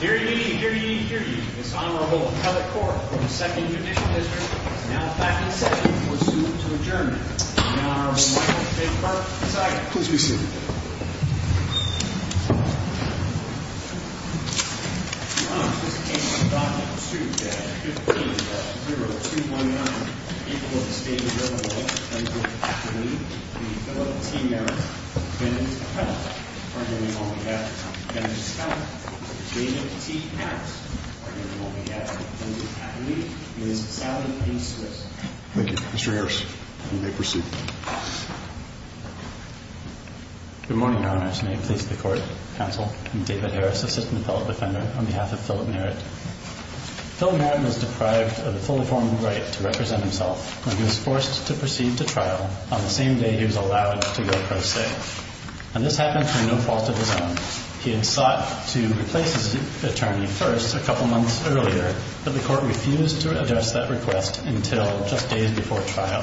Hear ye, hear ye, hear ye. This Honorable McCulloch Cork from the 2nd Judicial District is now back in session for a suit to adjourn. The Honorable Michael J. Park, beside him. Please be seated. Mr. Harris, you may proceed. Good morning, Your Honors. May it please the Court, Counsel, I'm David Harris, Assistant Appellate Defender, on behalf of Philip Merritt. Philip Merritt was deprived of the fully formed right to represent himself when he was forced to proceed to trial on the same day he was allowed to go pro se. And this happened through no fault of his own. He had sought to replace his attorney first a couple months earlier, but the Court refused to address that request until just days before trial.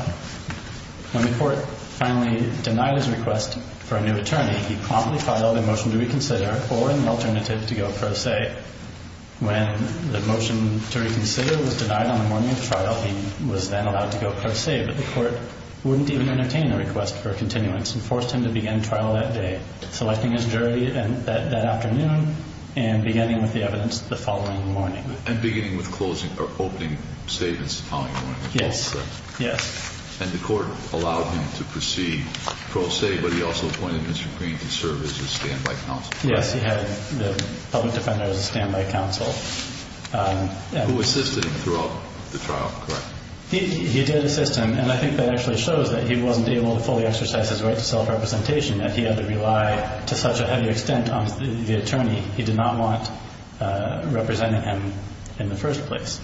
When the Court finally denied his request for a new attorney, he promptly filed a motion to reconsider or an alternative to go pro se. When the motion to reconsider was denied on the morning of trial, he was then allowed to go pro se. But the Court wouldn't even entertain the request for a continuance and forced him to begin trial that day, selecting his jury that afternoon and beginning with the evidence the following morning. Yes. Yes. And the Court allowed him to proceed pro se, but he also appointed Mr. Green to serve as a standby counsel. Yes, he had the public defender as a standby counsel. Who assisted him throughout the trial, correct? He did assist him, and I think that actually shows that he wasn't able to fully exercise his right to self-representation, that he had to rely to such a heavy extent on the attorney. He did not want representing him in the first place.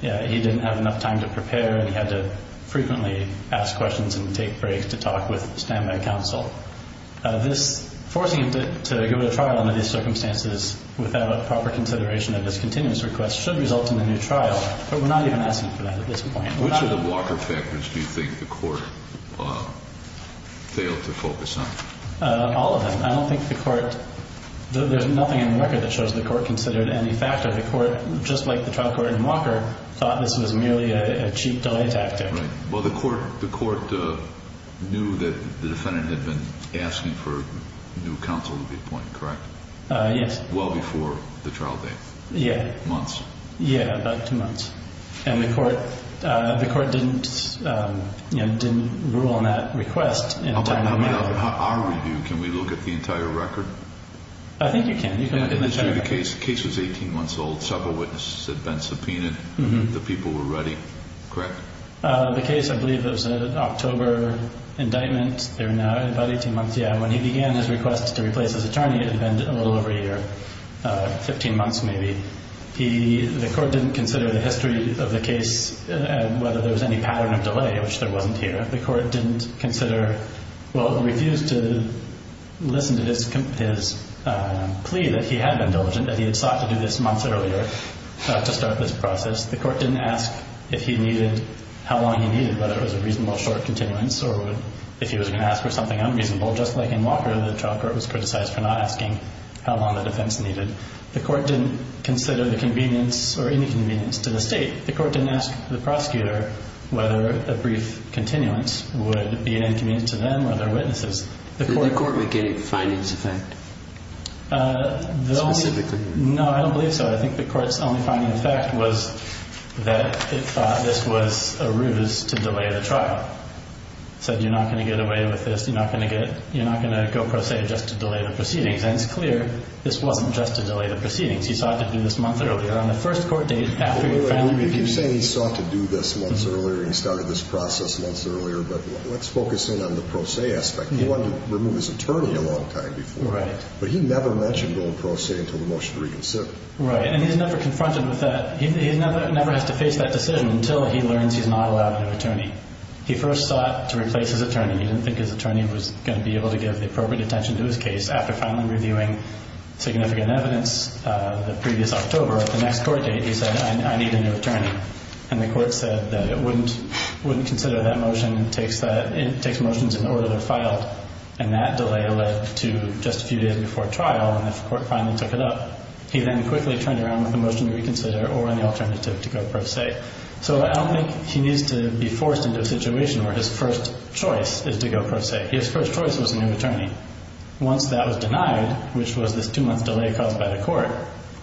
He didn't have enough time to prepare, and he had to frequently ask questions and take breaks to talk with the standby counsel. Forcing him to go to trial under these circumstances without proper consideration of his continuance request should result in a new trial, but we're not even asking for that at this point. Which of the blocker factors do you think the Court failed to focus on? All of them. I don't think the Court – there's nothing in the record that shows the Court considered any factor. The Court, just like the trial court in Walker, thought this was merely a cheap delay tactic. Right. Well, the Court knew that the defendant had been asking for a new counsel to be appointed, correct? Yes. Well before the trial date. Yeah. Months. Yeah, about two months. And the Court didn't rule on that request. In our review, can we look at the entire record? I think you can. The case was 18 months old. Several witnesses had been subpoenaed. The people were ready, correct? The case, I believe it was an October indictment. They were now about 18 months. Yeah, when he began his request to replace his attorney, it had been a little over a year, 15 months maybe. The Court didn't consider the history of the case and whether there was any pattern of delay, which there wasn't here. The Court didn't consider, well, refused to listen to his plea that he had been diligent, that he had sought to do this months earlier to start this process. The Court didn't ask if he needed, how long he needed, whether it was a reasonable short continuance or if he was going to ask for something unreasonable, just like in Walker, the trial court was criticized for not asking how long the defense needed. The Court didn't consider the convenience or inconvenience to the State. The Court didn't ask the prosecutor whether a brief continuance would be an inconvenience to them or their witnesses. Did the Court make any findings of that? Specifically? No, I don't believe so. I think the Court's only finding of fact was that it thought this was a ruse to delay the trial. It said you're not going to get away with this. You're not going to go pro se just to delay the proceedings. And it's clear this wasn't just to delay the proceedings. He sought to do this month earlier on the first court date after he finally reviewed the case. You're saying he sought to do this months earlier and he started this process months earlier, but let's focus in on the pro se aspect. He wanted to remove his attorney a long time before that, but he never mentioned going pro se until the motion to reconsider. Right, and he's never confronted with that. He never has to face that decision until he learns he's not allowed another attorney. He first sought to replace his attorney. He didn't think his attorney was going to be able to give the appropriate attention to his case. After finally reviewing significant evidence the previous October at the next court date, he said, I need a new attorney. And the Court said that it wouldn't consider that motion. It takes motions in order to file. And that delay led to just a few days before trial, and the Court finally took it up. He then quickly turned around with a motion to reconsider or an alternative to go pro se. So I don't think he needs to be forced into a situation where his first choice is to go pro se. His first choice was a new attorney. Once that was denied, which was this two-month delay caused by the Court,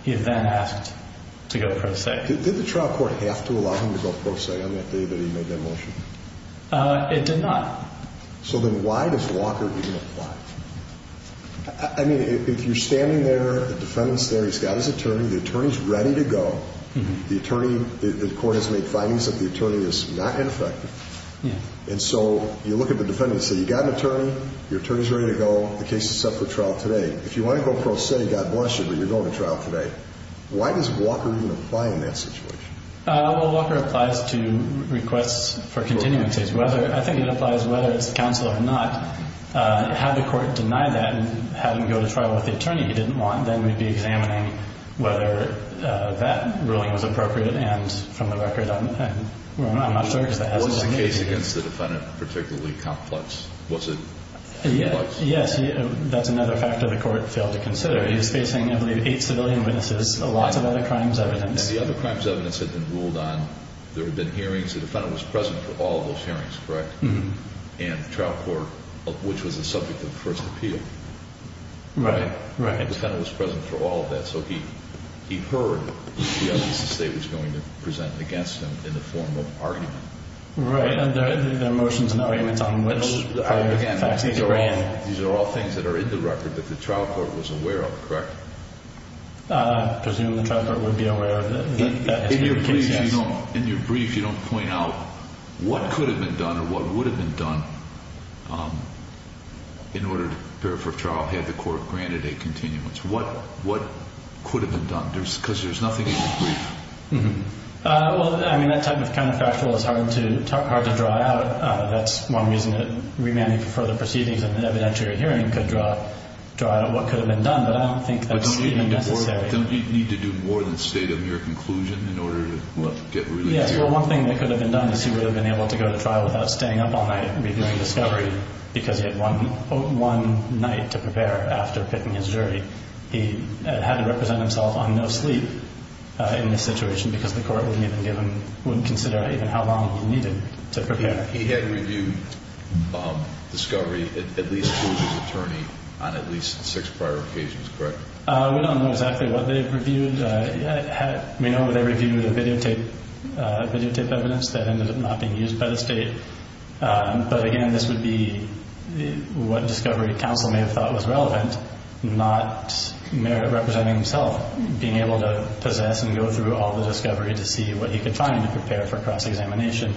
he then asked to go pro se. Did the trial court have to allow him to go pro se on that day that he made that motion? It did not. So then why does Walker even apply? I mean, if you're standing there, the defendant's there, he's got his attorney, the attorney's ready to go. The attorney, the Court has made findings that the attorney is not ineffective. And so you look at the defendant and say, you've got an attorney, your attorney's ready to go, the case is set for trial today. If you want to go pro se, God bless you, but you're going to trial today. Why does Walker even apply in that situation? Well, Walker applies to requests for continuances. I think it applies whether it's counsel or not. Had the Court denied that and had him go to trial with the attorney he didn't want, then we'd be examining whether that ruling was appropriate. What was the case against the defendant particularly complex? Was it complex? Yes. That's another factor the Court failed to consider. He was facing, I believe, eight civilian witnesses, a lot of other crimes evidence. And the other crimes evidence had been ruled on. There had been hearings. The defendant was present for all of those hearings, correct? And the trial court, which was the subject of the first appeal. Right. The defendant was present for all of that. So he heard the evidence the State was going to present against him in the form of argument. Right. And there are motions and arguments on which the facts need to be granted. These are all things that are in the record that the trial court was aware of, correct? I presume the trial court would be aware of it. In your brief, you don't point out what could have been done or what would have been done in order to prepare for trial had the Court granted a continuance. What could have been done? Because there's nothing in your brief. Well, I mean, that type of counterfactual is hard to draw out. That's one reason that remanding for further proceedings in an evidentiary hearing could draw out what could have been done. But I don't think that's even necessary. Don't you need to do more than state a mere conclusion in order to get relief? Yes. Well, one thing that could have been done is he would have been able to go to trial without staying up all night reviewing discovery because he had one night to prepare after pitting his jury. He had to represent himself on no sleep in this situation because the Court wouldn't consider even how long he needed to prepare. He had reviewed discovery at least to his attorney on at least six prior occasions, correct? We don't know exactly what they reviewed. We know they reviewed the videotape evidence that ended up not being used by the state. But, again, this would be what discovery counsel may have thought was relevant, not merit representing himself being able to possess and go through all the discovery to see what he could find to prepare for cross-examination.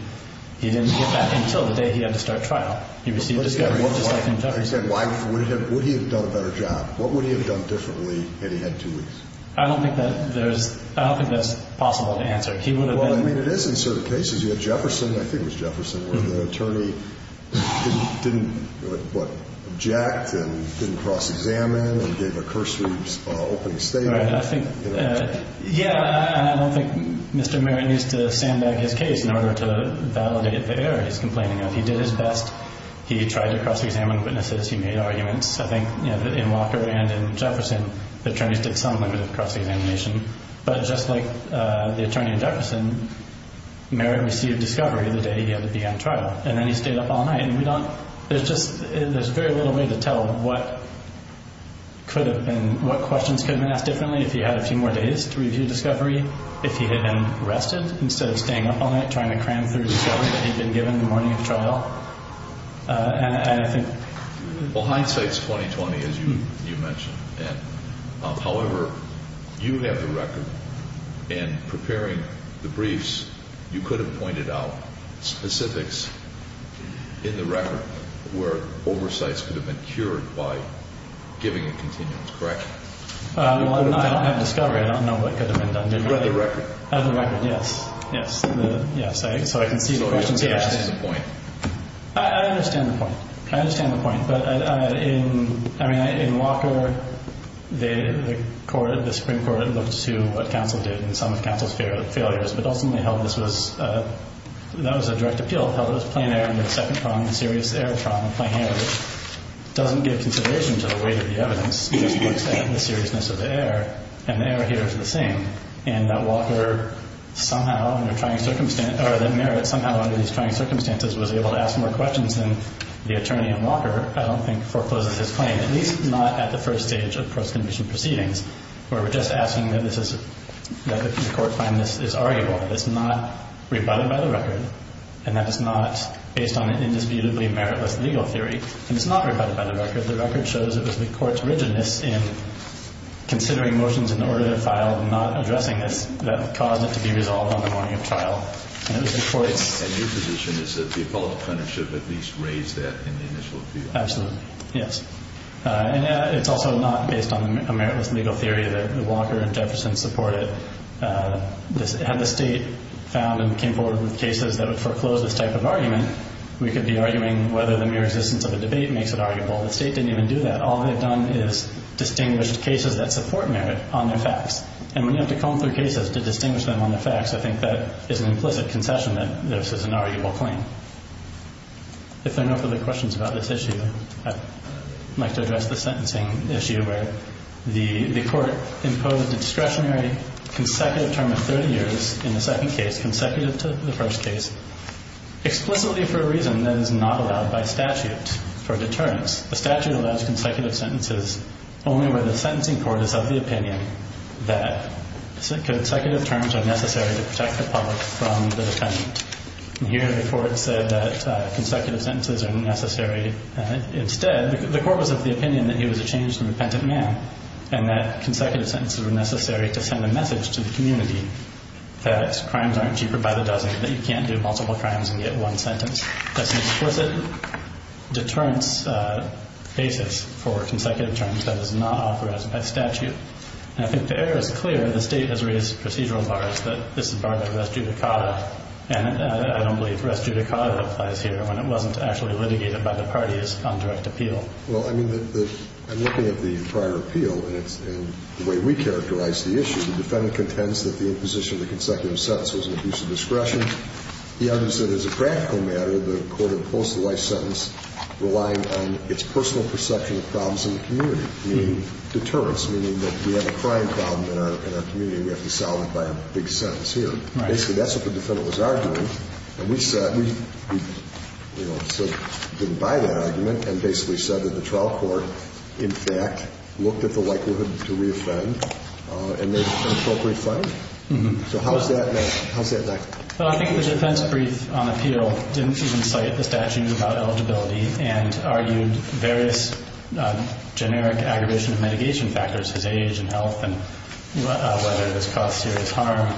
He didn't get that until the day he had to start trial. He received discovery just like in Jefferson. Would he have done a better job? What would he have done differently had he had two weeks? I don't think that's possible to answer. He would have been— Well, I mean, it is in certain cases. You had Jefferson, I think it was Jefferson, where the attorney didn't, what, object and didn't cross-examine and gave a cursory opening statement. Yeah, I don't think Mr. Merritt needs to sandbag his case in order to validate the error he's complaining of. He did his best. He tried to cross-examine witnesses. He made arguments. I think in Walker and in Jefferson, the attorneys did some limited cross-examination. But just like the attorney in Jefferson, Merritt received discovery the day he had to be on trial, and then he stayed up all night. And we don't—there's just—there's very little way to tell what could have been— what questions could have been asked differently if he had a few more days to review discovery if he had been rested instead of staying up all night trying to cram through discovery that he'd been given the morning of trial. And I think— Well, hindsight's 20-20, as you mentioned. However, you have the record in preparing the briefs. You could have pointed out specifics in the record where oversights could have been cured by giving a continuance, correct? Well, I don't have discovery. I don't know what could have been done differently. You have the record. I have the record, yes. Yes. So I can see the questions. So you understand the point. I understand the point. I understand the point. But in Walker, the Supreme Court looked to what counsel did and some of counsel's failures, but ultimately held this was— that was a direct appeal, held it was plain error and that second problem, the serious error problem, plain error, doesn't give consideration to the weight of the evidence because it looks at the seriousness of the error, and the error here is the same, and that Walker somehow under trying circumstances— or that Merritt somehow under these trying circumstances was able to ask more questions than the attorney in Walker. I don't think forecloses his claim, at least not at the first stage of post-conviction proceedings where we're just asking that this is— that the court find this is arguable, that it's not rebutted by the record, and that it's not based on an indisputably Merritt-less legal theory, and it's not rebutted by the record. The record shows it was the court's rigidness in considering motions in the order that are filed and not addressing this that caused it to be resolved on the morning of trial. And it was the court's— And your position is that the appellate plenary should have at least raised that in the initial appeal? Absolutely. Yes. And it's also not based on a Merritt-less legal theory that Walker and Jefferson supported. Had the state found and came forward with cases that would foreclose this type of argument, we could be arguing whether the mere existence of a debate makes it arguable. The state didn't even do that. All they've done is distinguished cases that support Merritt on their facts. And when you have to comb through cases to distinguish them on their facts, I think that is an implicit concession that this is an arguable claim. If there are no further questions about this issue, I'd like to address the sentencing issue where the court imposed a discretionary consecutive term of 30 years in the second case consecutive to the first case explicitly for a reason that is not allowed by statute for deterrence. The statute allows consecutive sentences only where the sentencing court is of the opinion that consecutive terms are necessary to protect the public from the defendant. And here the court said that consecutive sentences are necessary instead. The court was of the opinion that he was a changed and repentant man and that consecutive sentences were necessary to send a message to the community that crimes aren't cheaper by the dozen, that you can't do multiple crimes and get one sentence. That's an explicit deterrence basis for consecutive terms that is not authorized by statute. And I think the error is clear. The state has raised procedural bars that this is barbed wire, that's judicata, and I don't believe rest judicata applies here when it wasn't actually litigated by the parties on direct appeal. Well, I mean, I'm looking at the prior appeal and the way we characterize the issue. The defendant contends that the imposition of the consecutive sentence was an abuse of discretion. The argument is that as a practical matter, the court imposed the life sentence relying on its personal perception of problems in the community, meaning deterrence, meaning that we have a crime problem in our community and we have to solve it by a big sentence here. Basically, that's what the defendant was arguing. And we said we didn't buy that argument and basically said that the trial court, in fact, looked at the likelihood to reoffend and made an appropriate finding. So how does that match? Well, I think the defense brief on appeal didn't even cite the statute about eligibility and argued various generic aggravation of mitigation factors, such as age and health and whether this caused serious harm,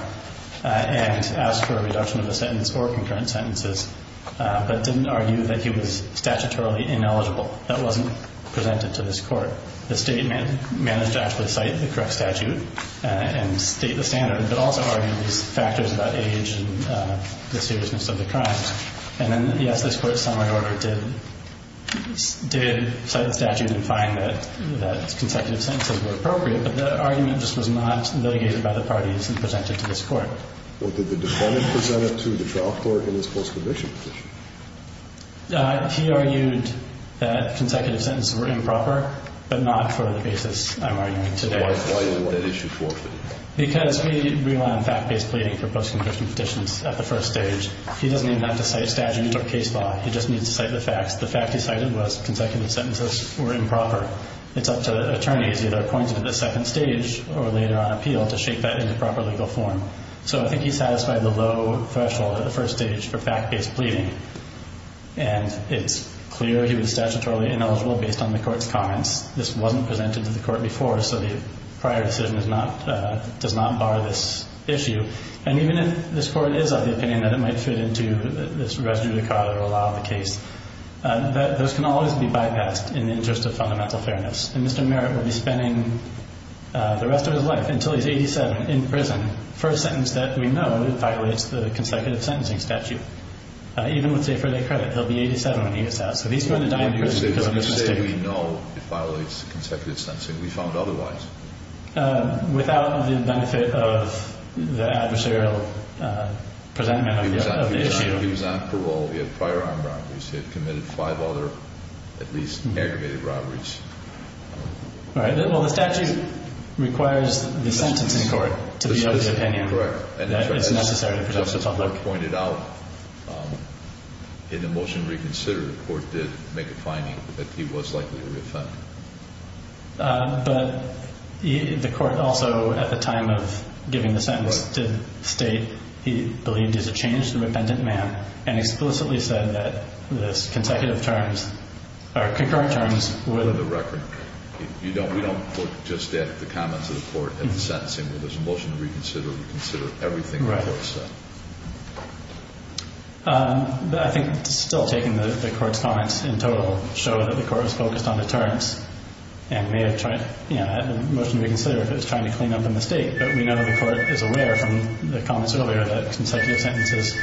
and asked for a reduction of the sentence or concurrent sentences, but didn't argue that he was statutorily ineligible. That wasn't presented to this court. The state managed to actually cite the correct statute and state the standard, but also argued these factors about age and the seriousness of the crime. And then, yes, this court's summary order did cite the statute and find that consecutive sentences were appropriate, but the argument just was not litigated by the parties and presented to this court. Well, did the defendant present it to the trial court in his post-conviction petition? He argued that consecutive sentences were improper, but not for the basis I'm arguing today. Why didn't he want that issue forfeited? Because we rely on fact-based pleading for post-conviction petitions at the first stage. He doesn't even have to cite statute or case law. He just needs to cite the facts. The fact he cited was consecutive sentences were improper. It's up to attorneys, either appointed at the second stage or later on appeal, to shape that into proper legal form. So I think he satisfied the low threshold at the first stage for fact-based pleading. And it's clear he was statutorily ineligible based on the court's comments. This wasn't presented to the court before, so the prior decision does not bar this issue. And even if this court is of the opinion that it might fit into this res judicata or a law of the case, those can always be bypassed in the interest of fundamental fairness. And Mr. Merritt will be spending the rest of his life until he's 87 in prison for a sentence that we know violates the consecutive sentencing statute, even with, say, a four-day credit. He'll be 87 when he gets out. So if he's going to die in prison, it doesn't make a difference. Even if they don't say we know it violates consecutive sentencing, we found otherwise. Without the benefit of the adversarial presentment of the issue. He was on parole. He had prior armed robberies. He had committed five other at least aggravated robberies. All right. Well, the statute requires the sentencing court to be of the opinion that it's necessary to present to the public. As the court pointed out, in the motion reconsidered, the court did make a finding that he was likely to be offended. But the court also, at the time of giving the sentence, did state he believed he's a changed and repentant man and explicitly said that this consecutive terms, or concurrent terms, would... We don't look just at the comments of the court at the sentencing. When there's a motion to reconsider, we consider everything the court said. Right. I think still taking the court's comments in total show that the court was focused on deterrence and may have tried... In the motion to reconsider, it was trying to clean up a mistake. But we know that the court is aware from the comments earlier that consecutive sentences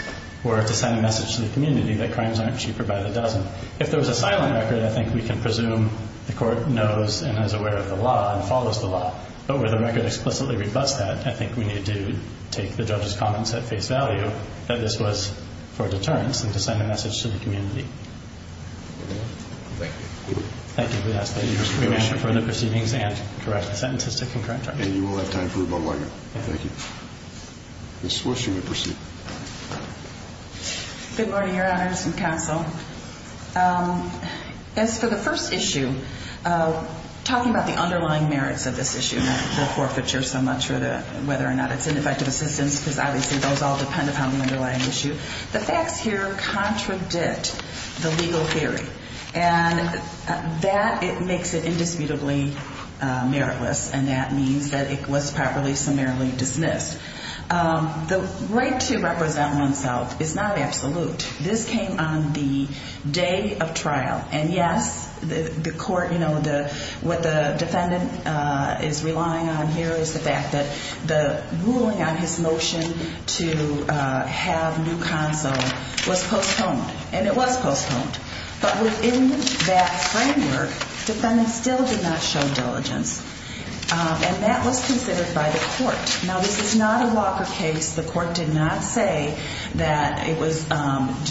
were to send a message to the community that crimes aren't cheaper by the dozen. If there was a silent record, I think we can presume the court knows and is aware of the law and follows the law. But where the record explicitly rebuts that, I think we need to take the judge's comments at face value that this was for deterrence and to send a message to the community. Thank you. Thank you. We ask that you remain for the proceedings and correct the sentences to concurrent terms. And you will have time for rebuttal later. Thank you. Ms. Swish, you may proceed. Good morning, Your Honors and counsel. As for the first issue, talking about the underlying merits of this issue, not the forfeiture so much or whether or not it's ineffective assistance because obviously those all depend upon the underlying issue, the facts here contradict the legal theory. And that makes it indisputably meritless, and that means that it was properly summarily dismissed. The right to represent oneself is not absolute. This came on the day of trial. And, yes, the court, you know, what the defendant is relying on here is the fact that the ruling on his motion to have new counsel was postponed. And it was postponed. But within that framework, defendant still did not show diligence. And that was considered by the court. Now, this is not a Walker case. The court did not say that it was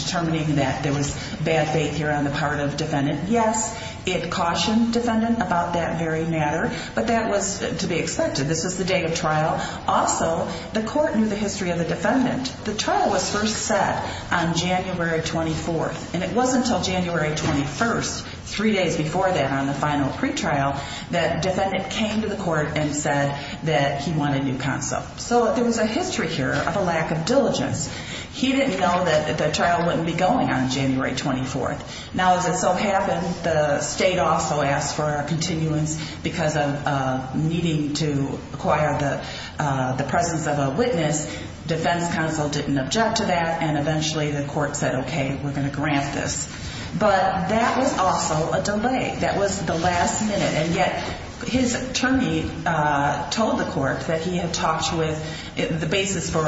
determining that there was bad faith here on the part of defendant. Yes, it cautioned defendant about that very matter, but that was to be expected. This is the day of trial. Also, the court knew the history of the defendant. The trial was first set on January 24th, and it wasn't until January 21st, three days before that on the final pretrial, that defendant came to the court and said that he wanted new counsel. So there was a history here of a lack of diligence. He didn't know that the trial wouldn't be going on January 24th. Now, as it so happened, the state also asked for a continuance because of needing to acquire the presence of a witness. Defense counsel didn't object to that, and eventually the court said, okay, we're going to grant this. But that was also a delay. That was the last minute. And yet his attorney told the court that he had talked with the basis for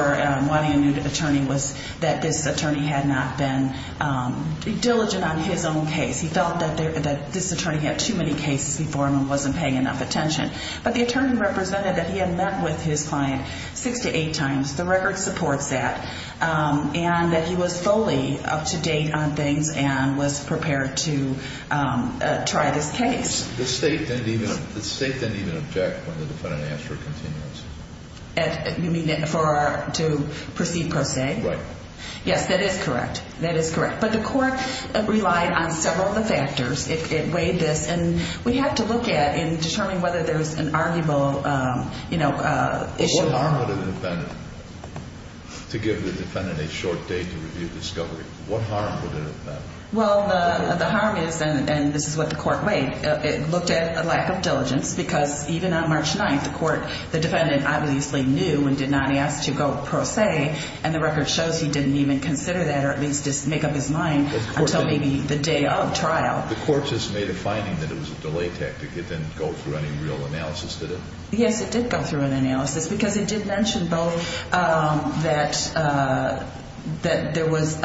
wanting a new attorney was that this attorney had not been diligent on his own case. He felt that this attorney had too many cases before him and wasn't paying enough attention. But the attorney represented that he had met with his client six to eight times. The record supports that. And that he was fully up to date on things and was prepared to try this case. The state didn't even object when the defendant asked for a continuance. You mean to proceed per se? Right. Yes, that is correct. That is correct. But the court relied on several of the factors. It weighed this. And we have to look at and determine whether there's an arguable issue. What harm would it have been to give the defendant a short date to review discovery? What harm would it have been? Well, the harm is, and this is what the court weighed, it looked at a lack of diligence because even on March 9th, the defendant obviously knew and did not ask to go per se. And the record shows he didn't even consider that or at least make up his mind until maybe the day of trial. The court just made a finding that it was a delay tactic. It didn't go through any real analysis, did it? Yes, it did go through an analysis because it did mention both that there was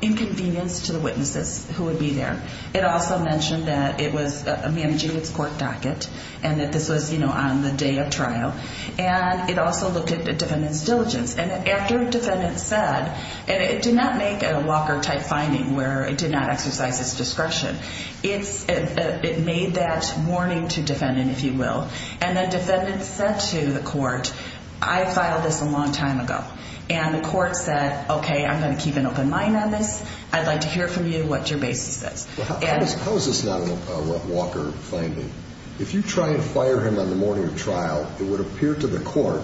inconvenience to the witnesses who would be there. It also mentioned that it was managing its court docket and that this was on the day of trial. And it also looked at the defendant's diligence. And after a defendant said, and it did not make a Walker-type finding where it did not exercise its discretion. It made that warning to the defendant, if you will. And the defendant said to the court, I filed this a long time ago. And the court said, okay, I'm going to keep an open mind on this. I'd like to hear from you what your basis is. How is this not a Walker finding? If you try and fire him on the morning of trial, it would appear to the court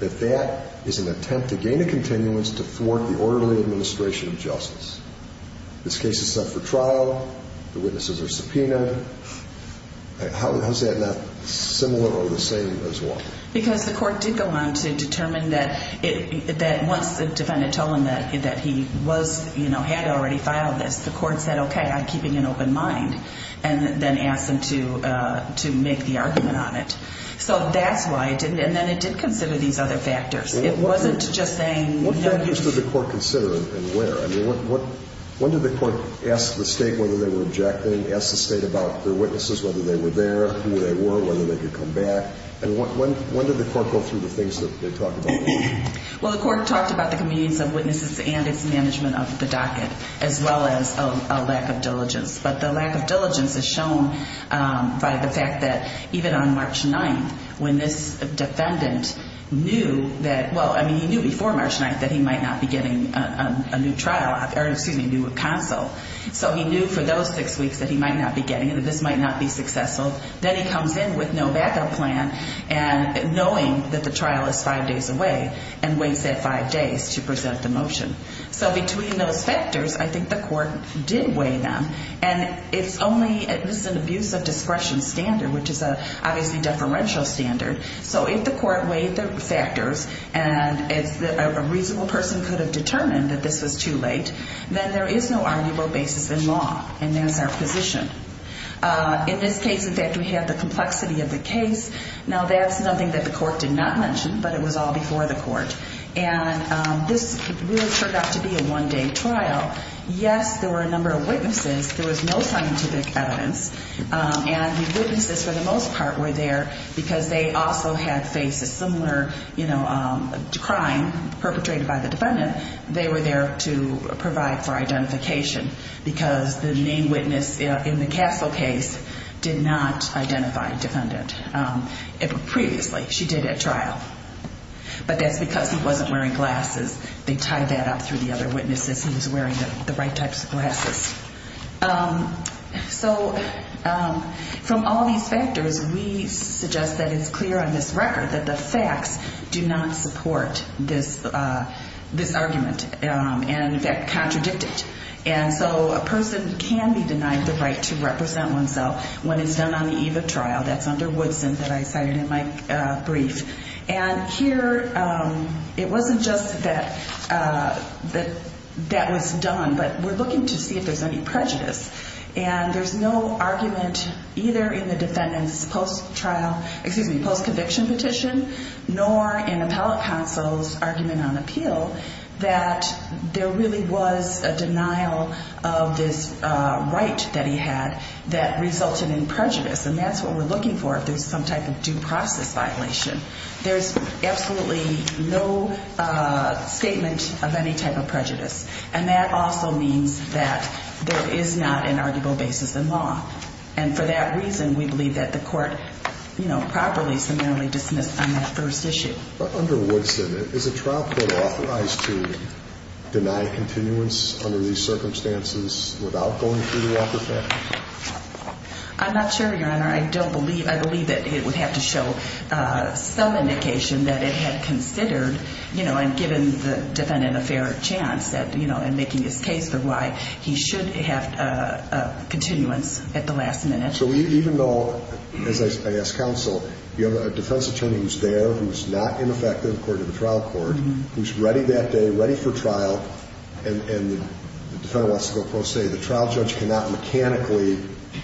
that that is an attempt to gain a continuance to thwart the orderly administration of justice. This case is set for trial. The witnesses are subpoenaed. How is that not similar or the same as Walker? Because the court did go on to determine that once the defendant told him that he had already filed this, the court said, okay, I'm keeping an open mind. And then asked him to make the argument on it. So that's why it didn't. And then it did consider these other factors. It wasn't just saying no. What factors did the court consider and where? I mean, when did the court ask the state whether they were objecting, ask the state about their witnesses, whether they were there, who they were, whether they could come back? And when did the court go through the things that they talked about? Well, the court talked about the convenience of witnesses and its management of the docket, as well as a lack of diligence. But the lack of diligence is shown by the fact that even on March 9th, when this defendant knew that, well, I mean, he knew before March 9th that he might not be getting a new trial, or excuse me, a new counsel. So he knew for those six weeks that he might not be getting it, that this might not be successful. Then he comes in with no backup plan and knowing that the trial is five days away and waits that five days to present the motion. So between those factors, I think the court did weigh them. And it's only an abuse of discretion standard, which is obviously a deferential standard. So if the court weighed the factors and a reasonable person could have determined that this was too late, then there is no arguable basis in law. And there's our position. In this case, in fact, we have the complexity of the case. Now, that's something that the court did not mention, but it was all before the court. And this really turned out to be a one-day trial. Yes, there were a number of witnesses. There was no scientific evidence. And the witnesses, for the most part, were there because they also had faced a similar, you know, crime perpetrated by the defendant. They were there to provide for identification because the main witness in the Castle case did not identify a defendant. Previously she did at trial. But that's because he wasn't wearing glasses. They tied that up through the other witnesses. He was wearing the right types of glasses. So from all these factors, we suggest that it's clear on this record that the facts do not support this argument and, in fact, contradict it. And so a person can be denied the right to represent oneself when it's done on the eve of trial. That's under Woodson that I cited in my brief. And here it wasn't just that that was done, but we're looking to see if there's any prejudice. And there's no argument either in the defendant's post-trial – excuse me, post-conviction petition, nor in appellate counsel's argument on appeal that there really was a denial of this right that he had that resulted in prejudice. And that's what we're looking for if there's some type of due process violation. There's absolutely no statement of any type of prejudice. And that also means that there is not an arguable basis in law. And for that reason, we believe that the court, you know, properly, summarily dismissed on that first issue. But under Woodson, is a trial court authorized to deny continuance under these circumstances without going through the Walker family? I'm not sure, Your Honor. I don't believe – I believe that it would have to show some indication that it had considered, you know, and given the defendant a fair chance at, you know, in making his case for why he should have continuance at the last minute. So even though, as I ask counsel, you have a defense attorney who's there, who's not ineffective according to the trial court, who's ready that day, ready for trial, and the defendant wants to go pro se, the trial judge cannot mechanically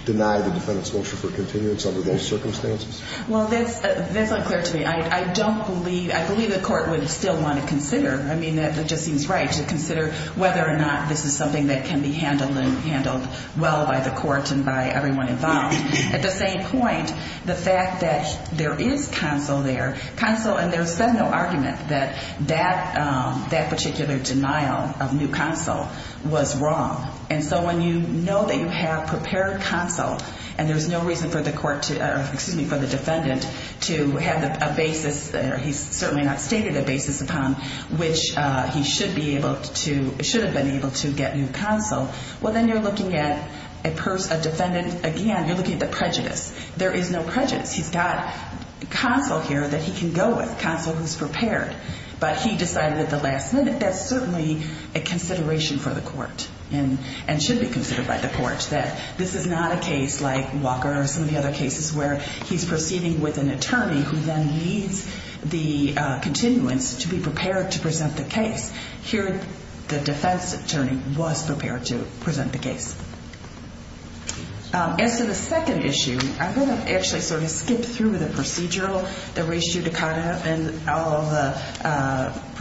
deny the defendant's motion for continuance under those circumstances? Well, that's unclear to me. I don't believe – I believe the court would still want to consider. I mean, it just seems right to consider whether or not this is something that can be handled and handled well by the court and by everyone involved. At the same point, the fact that there is counsel there, counsel – and there's been no argument that that particular denial of new counsel was wrong. And so when you know that you have prepared counsel and there's no reason for the court to – or excuse me, for the defendant to have a basis, or he's certainly not stated a basis upon, which he should be able to – should have been able to get new counsel, well, then you're looking at a person – a defendant – again, you're looking at the prejudice. There is no prejudice. He's got counsel here that he can go with, counsel who's prepared. But he decided at the last minute that's certainly a consideration for the court and should be considered by the court, that this is not a case like Walker or some of the other cases where he's proceeding with an attorney who then needs the continuance to be prepared to present the case. As to the second issue, I'm going to actually sort of skip through the procedural – the res judicata and all of the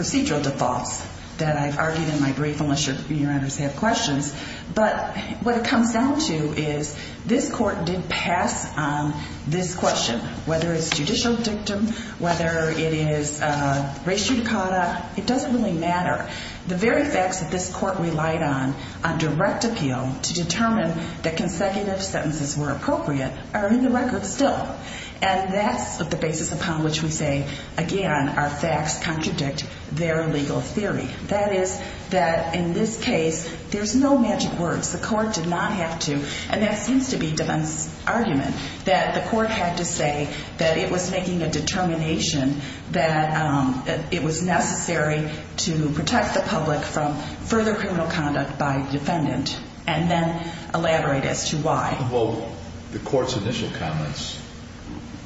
procedural defaults that I've argued in my brief, unless your honors have questions. But what it comes down to is this court did pass on this question, whether it's judicial dictum, whether it is res judicata, it doesn't really matter. The very facts that this court relied on on direct appeal to determine that consecutive sentences were appropriate are in the record still. And that's the basis upon which we say, again, our facts contradict their legal theory. That is that in this case, there's no magic words. The court did not have to – and that seems to be Devin's argument – that the court had to say that it was making a determination that it was necessary to protect the public from further criminal conduct by defendant and then elaborate as to why. Well, the court's initial comments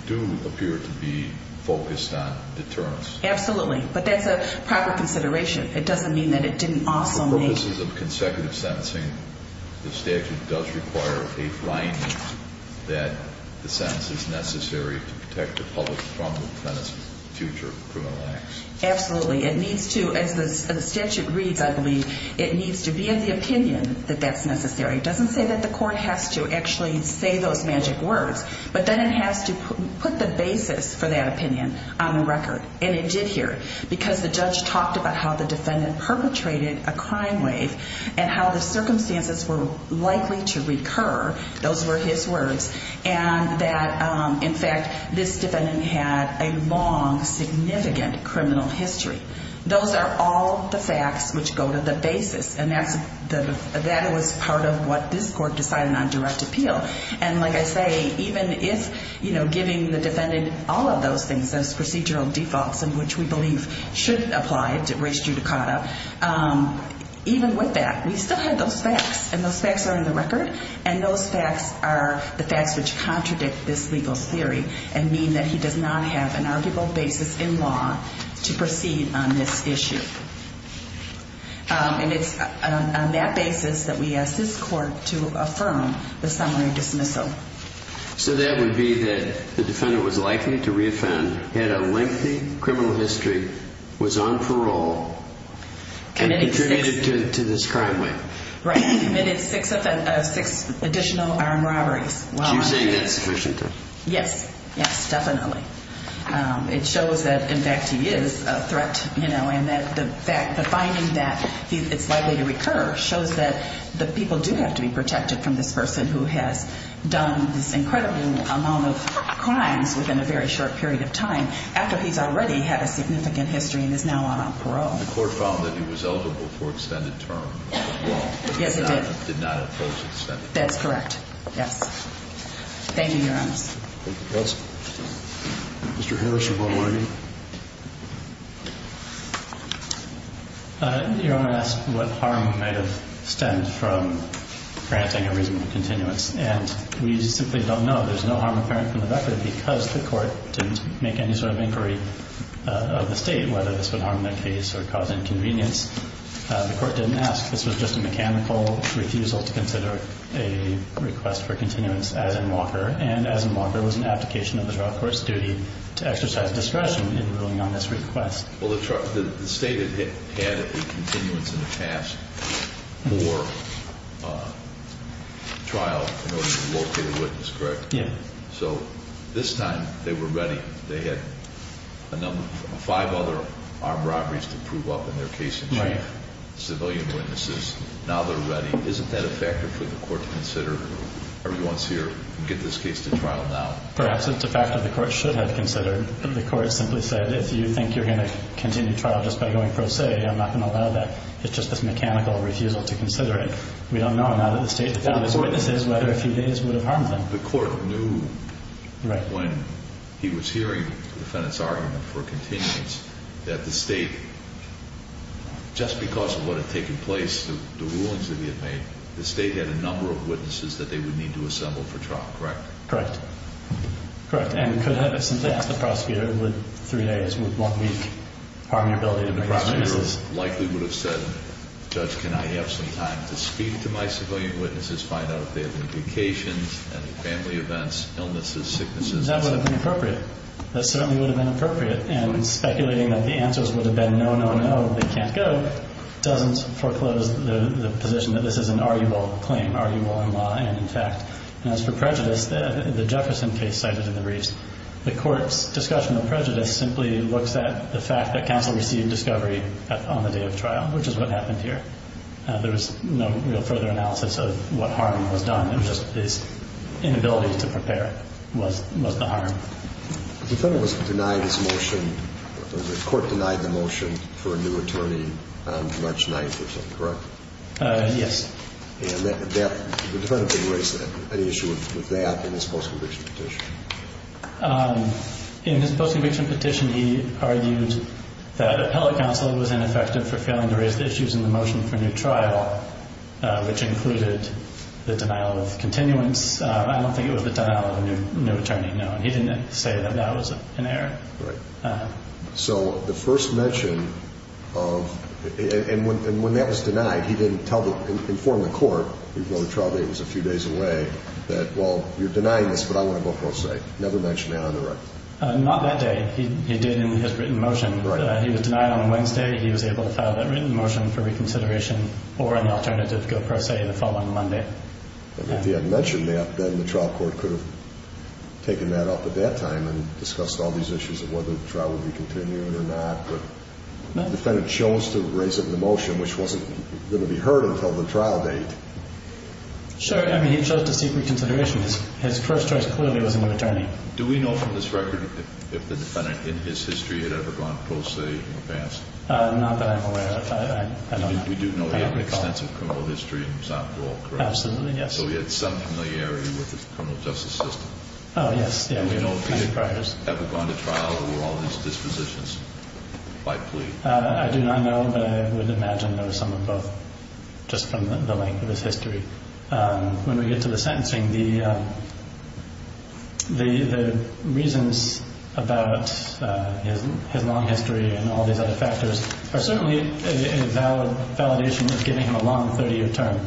do appear to be focused on deterrence. Absolutely. But that's a proper consideration. It doesn't mean that it didn't also make – For purposes of consecutive sentencing, the statute does require a finding that the sentence is necessary to protect the public from the defendant's future criminal acts. Absolutely. It needs to – as the statute reads, I believe, it needs to be in the opinion that that's necessary. It doesn't say that the court has to actually say those magic words, but then it has to put the basis for that opinion on the record. And it did here because the judge talked about how the defendant perpetrated a crime wave and how the circumstances were likely to recur. Those were his words. And that, in fact, this defendant had a long, significant criminal history. Those are all the facts which go to the basis, and that was part of what this court decided on direct appeal. And like I say, even if giving the defendant all of those things, those procedural defaults in which we believe should apply, even with that, we still have those facts, and those facts are on the record, and those facts are the facts which contradict this legal theory and mean that he does not have an arguable basis in law to proceed on this issue. And it's on that basis that we ask this court to affirm the summary dismissal. So that would be that the defendant was likely to reoffend, had a lengthy criminal history, was on parole, and contributed to this crime wave. Right. He committed six additional armed robberies. Are you saying that's sufficient? Yes. Yes, definitely. It shows that, in fact, he is a threat, you know, and that the finding that it's likely to recur shows that the people do have to be protected from this person who has done this incredible amount of crimes within a very short period of time after he's already had a significant history and is now on parole. The court found that he was eligible for extended term as well. Yes, it did. But the defendant did not impose extended term. That's correct. Yes. Thank you, Your Honor. Thank you, counsel. Mr. Harris, you want to argue? Your Honor asked what harm might have stemmed from granting a reasonable continuance, and we simply don't know. There's no harm apparent from the record because the court didn't make any sort of inquiry of the state whether this would harm their case or cause inconvenience. The court didn't ask. This was just a mechanical refusal to consider a request for continuance as in Walker, and as in Walker, it was an application of the trial court's duty to exercise discretion in ruling on this request. Well, the state had had a continuance in the past for trial in order to locate a witness, correct? Yes. So this time they were ready. They had five other armed robberies to prove up in their case in chief, civilian witnesses. Now they're ready. Isn't that a factor for the court to consider every once in a year and get this case to trial now? Perhaps it's a factor the court should have considered. The court simply said if you think you're going to continue trial just by going pro se, I'm not going to allow that. It's just this mechanical refusal to consider it. We don't know now that the state has witnesses whether a few days would have harmed them. The court knew when he was hearing the defendant's argument for continuance that the state, just because of what had taken place, the rulings that he had made, the state had a number of witnesses that they would need to assemble for trial, correct? Correct. Correct. And could have simply asked the prosecutor, would three days, would one week harm your ability to bring witnesses? The prosecutor likely would have said, Judge, can I have some time to speak to my civilian witnesses, find out if they have indications, any family events, illnesses, sicknesses? That would have been appropriate. That certainly would have been appropriate. And speculating that the answers would have been no, no, no, they can't go, doesn't foreclose the position that this is an arguable claim, arguable in law and in fact. And as for prejudice, the Jefferson case cited in the briefs, the court's discussion of prejudice simply looks at the fact that counsel received discovery on the day of trial, which is what happened here. There was no further analysis of what harm was done. It was just his inability to prepare was the harm. The defendant was denied his motion, the court denied the motion for a new attorney on March 9th or something, correct? Yes. And the defendant didn't raise any issue with that in his post-conviction petition. In his post-conviction petition, he argued that appellate counsel was ineffective for failing to raise the issues in the motion for new trial, which included the denial of continuance. I don't think it was the denial of a new attorney, no. He didn't say that that was an error. So the first mention of, and when that was denied, he didn't inform the court, even though the trial date was a few days away, that, well, you're denying this, but I want to go pro se. Never mention that on the record. Not that day. He did in his written motion. He was denied on Wednesday. He was able to file that written motion for reconsideration or an alternative go pro se the following Monday. If he had mentioned that, then the trial court could have taken that up at that time and discussed all these issues of whether the trial would be continuing or not. The defendant chose to raise it in the motion, which wasn't going to be heard until the trial date. Sure. I mean, he chose to seek reconsideration. His first choice clearly was a new attorney. Do we know from this record if the defendant in his history had ever gone pro se in the past? Not that I'm aware of. We do know he had an extensive criminal history and was outlawed, correct? Absolutely, yes. So he had some familiarity with the criminal justice system. Oh, yes. Have we gone to trial or were all these dispositions by plea? I do not know, but I would imagine there were some of both just from the length of his history. When we get to the sentencing, the reasons about his long history and all these other factors are certainly a validation of giving him a long 30-year term,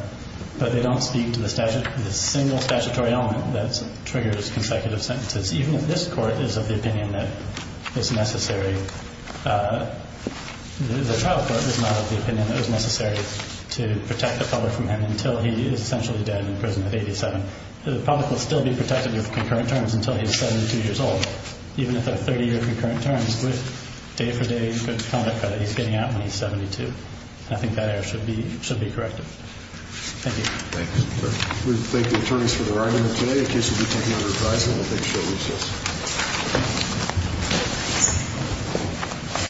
but they don't speak to the single statutory element that triggers consecutive sentences. Even if this court is of the opinion that it's necessary, the trial court is not of the opinion that it's necessary to protect the public from him until he is essentially dead and imprisoned at 87. The public will still be protected with concurrent terms until he's 72 years old. Even if they're 30-year concurrent terms, day for day, good conduct credit, he's getting out when he's 72. I think that error should be corrected. Thank you. Thank you, sir. We thank the attorneys for their argument today. The case will be taken under advisement. We'll take a short recess.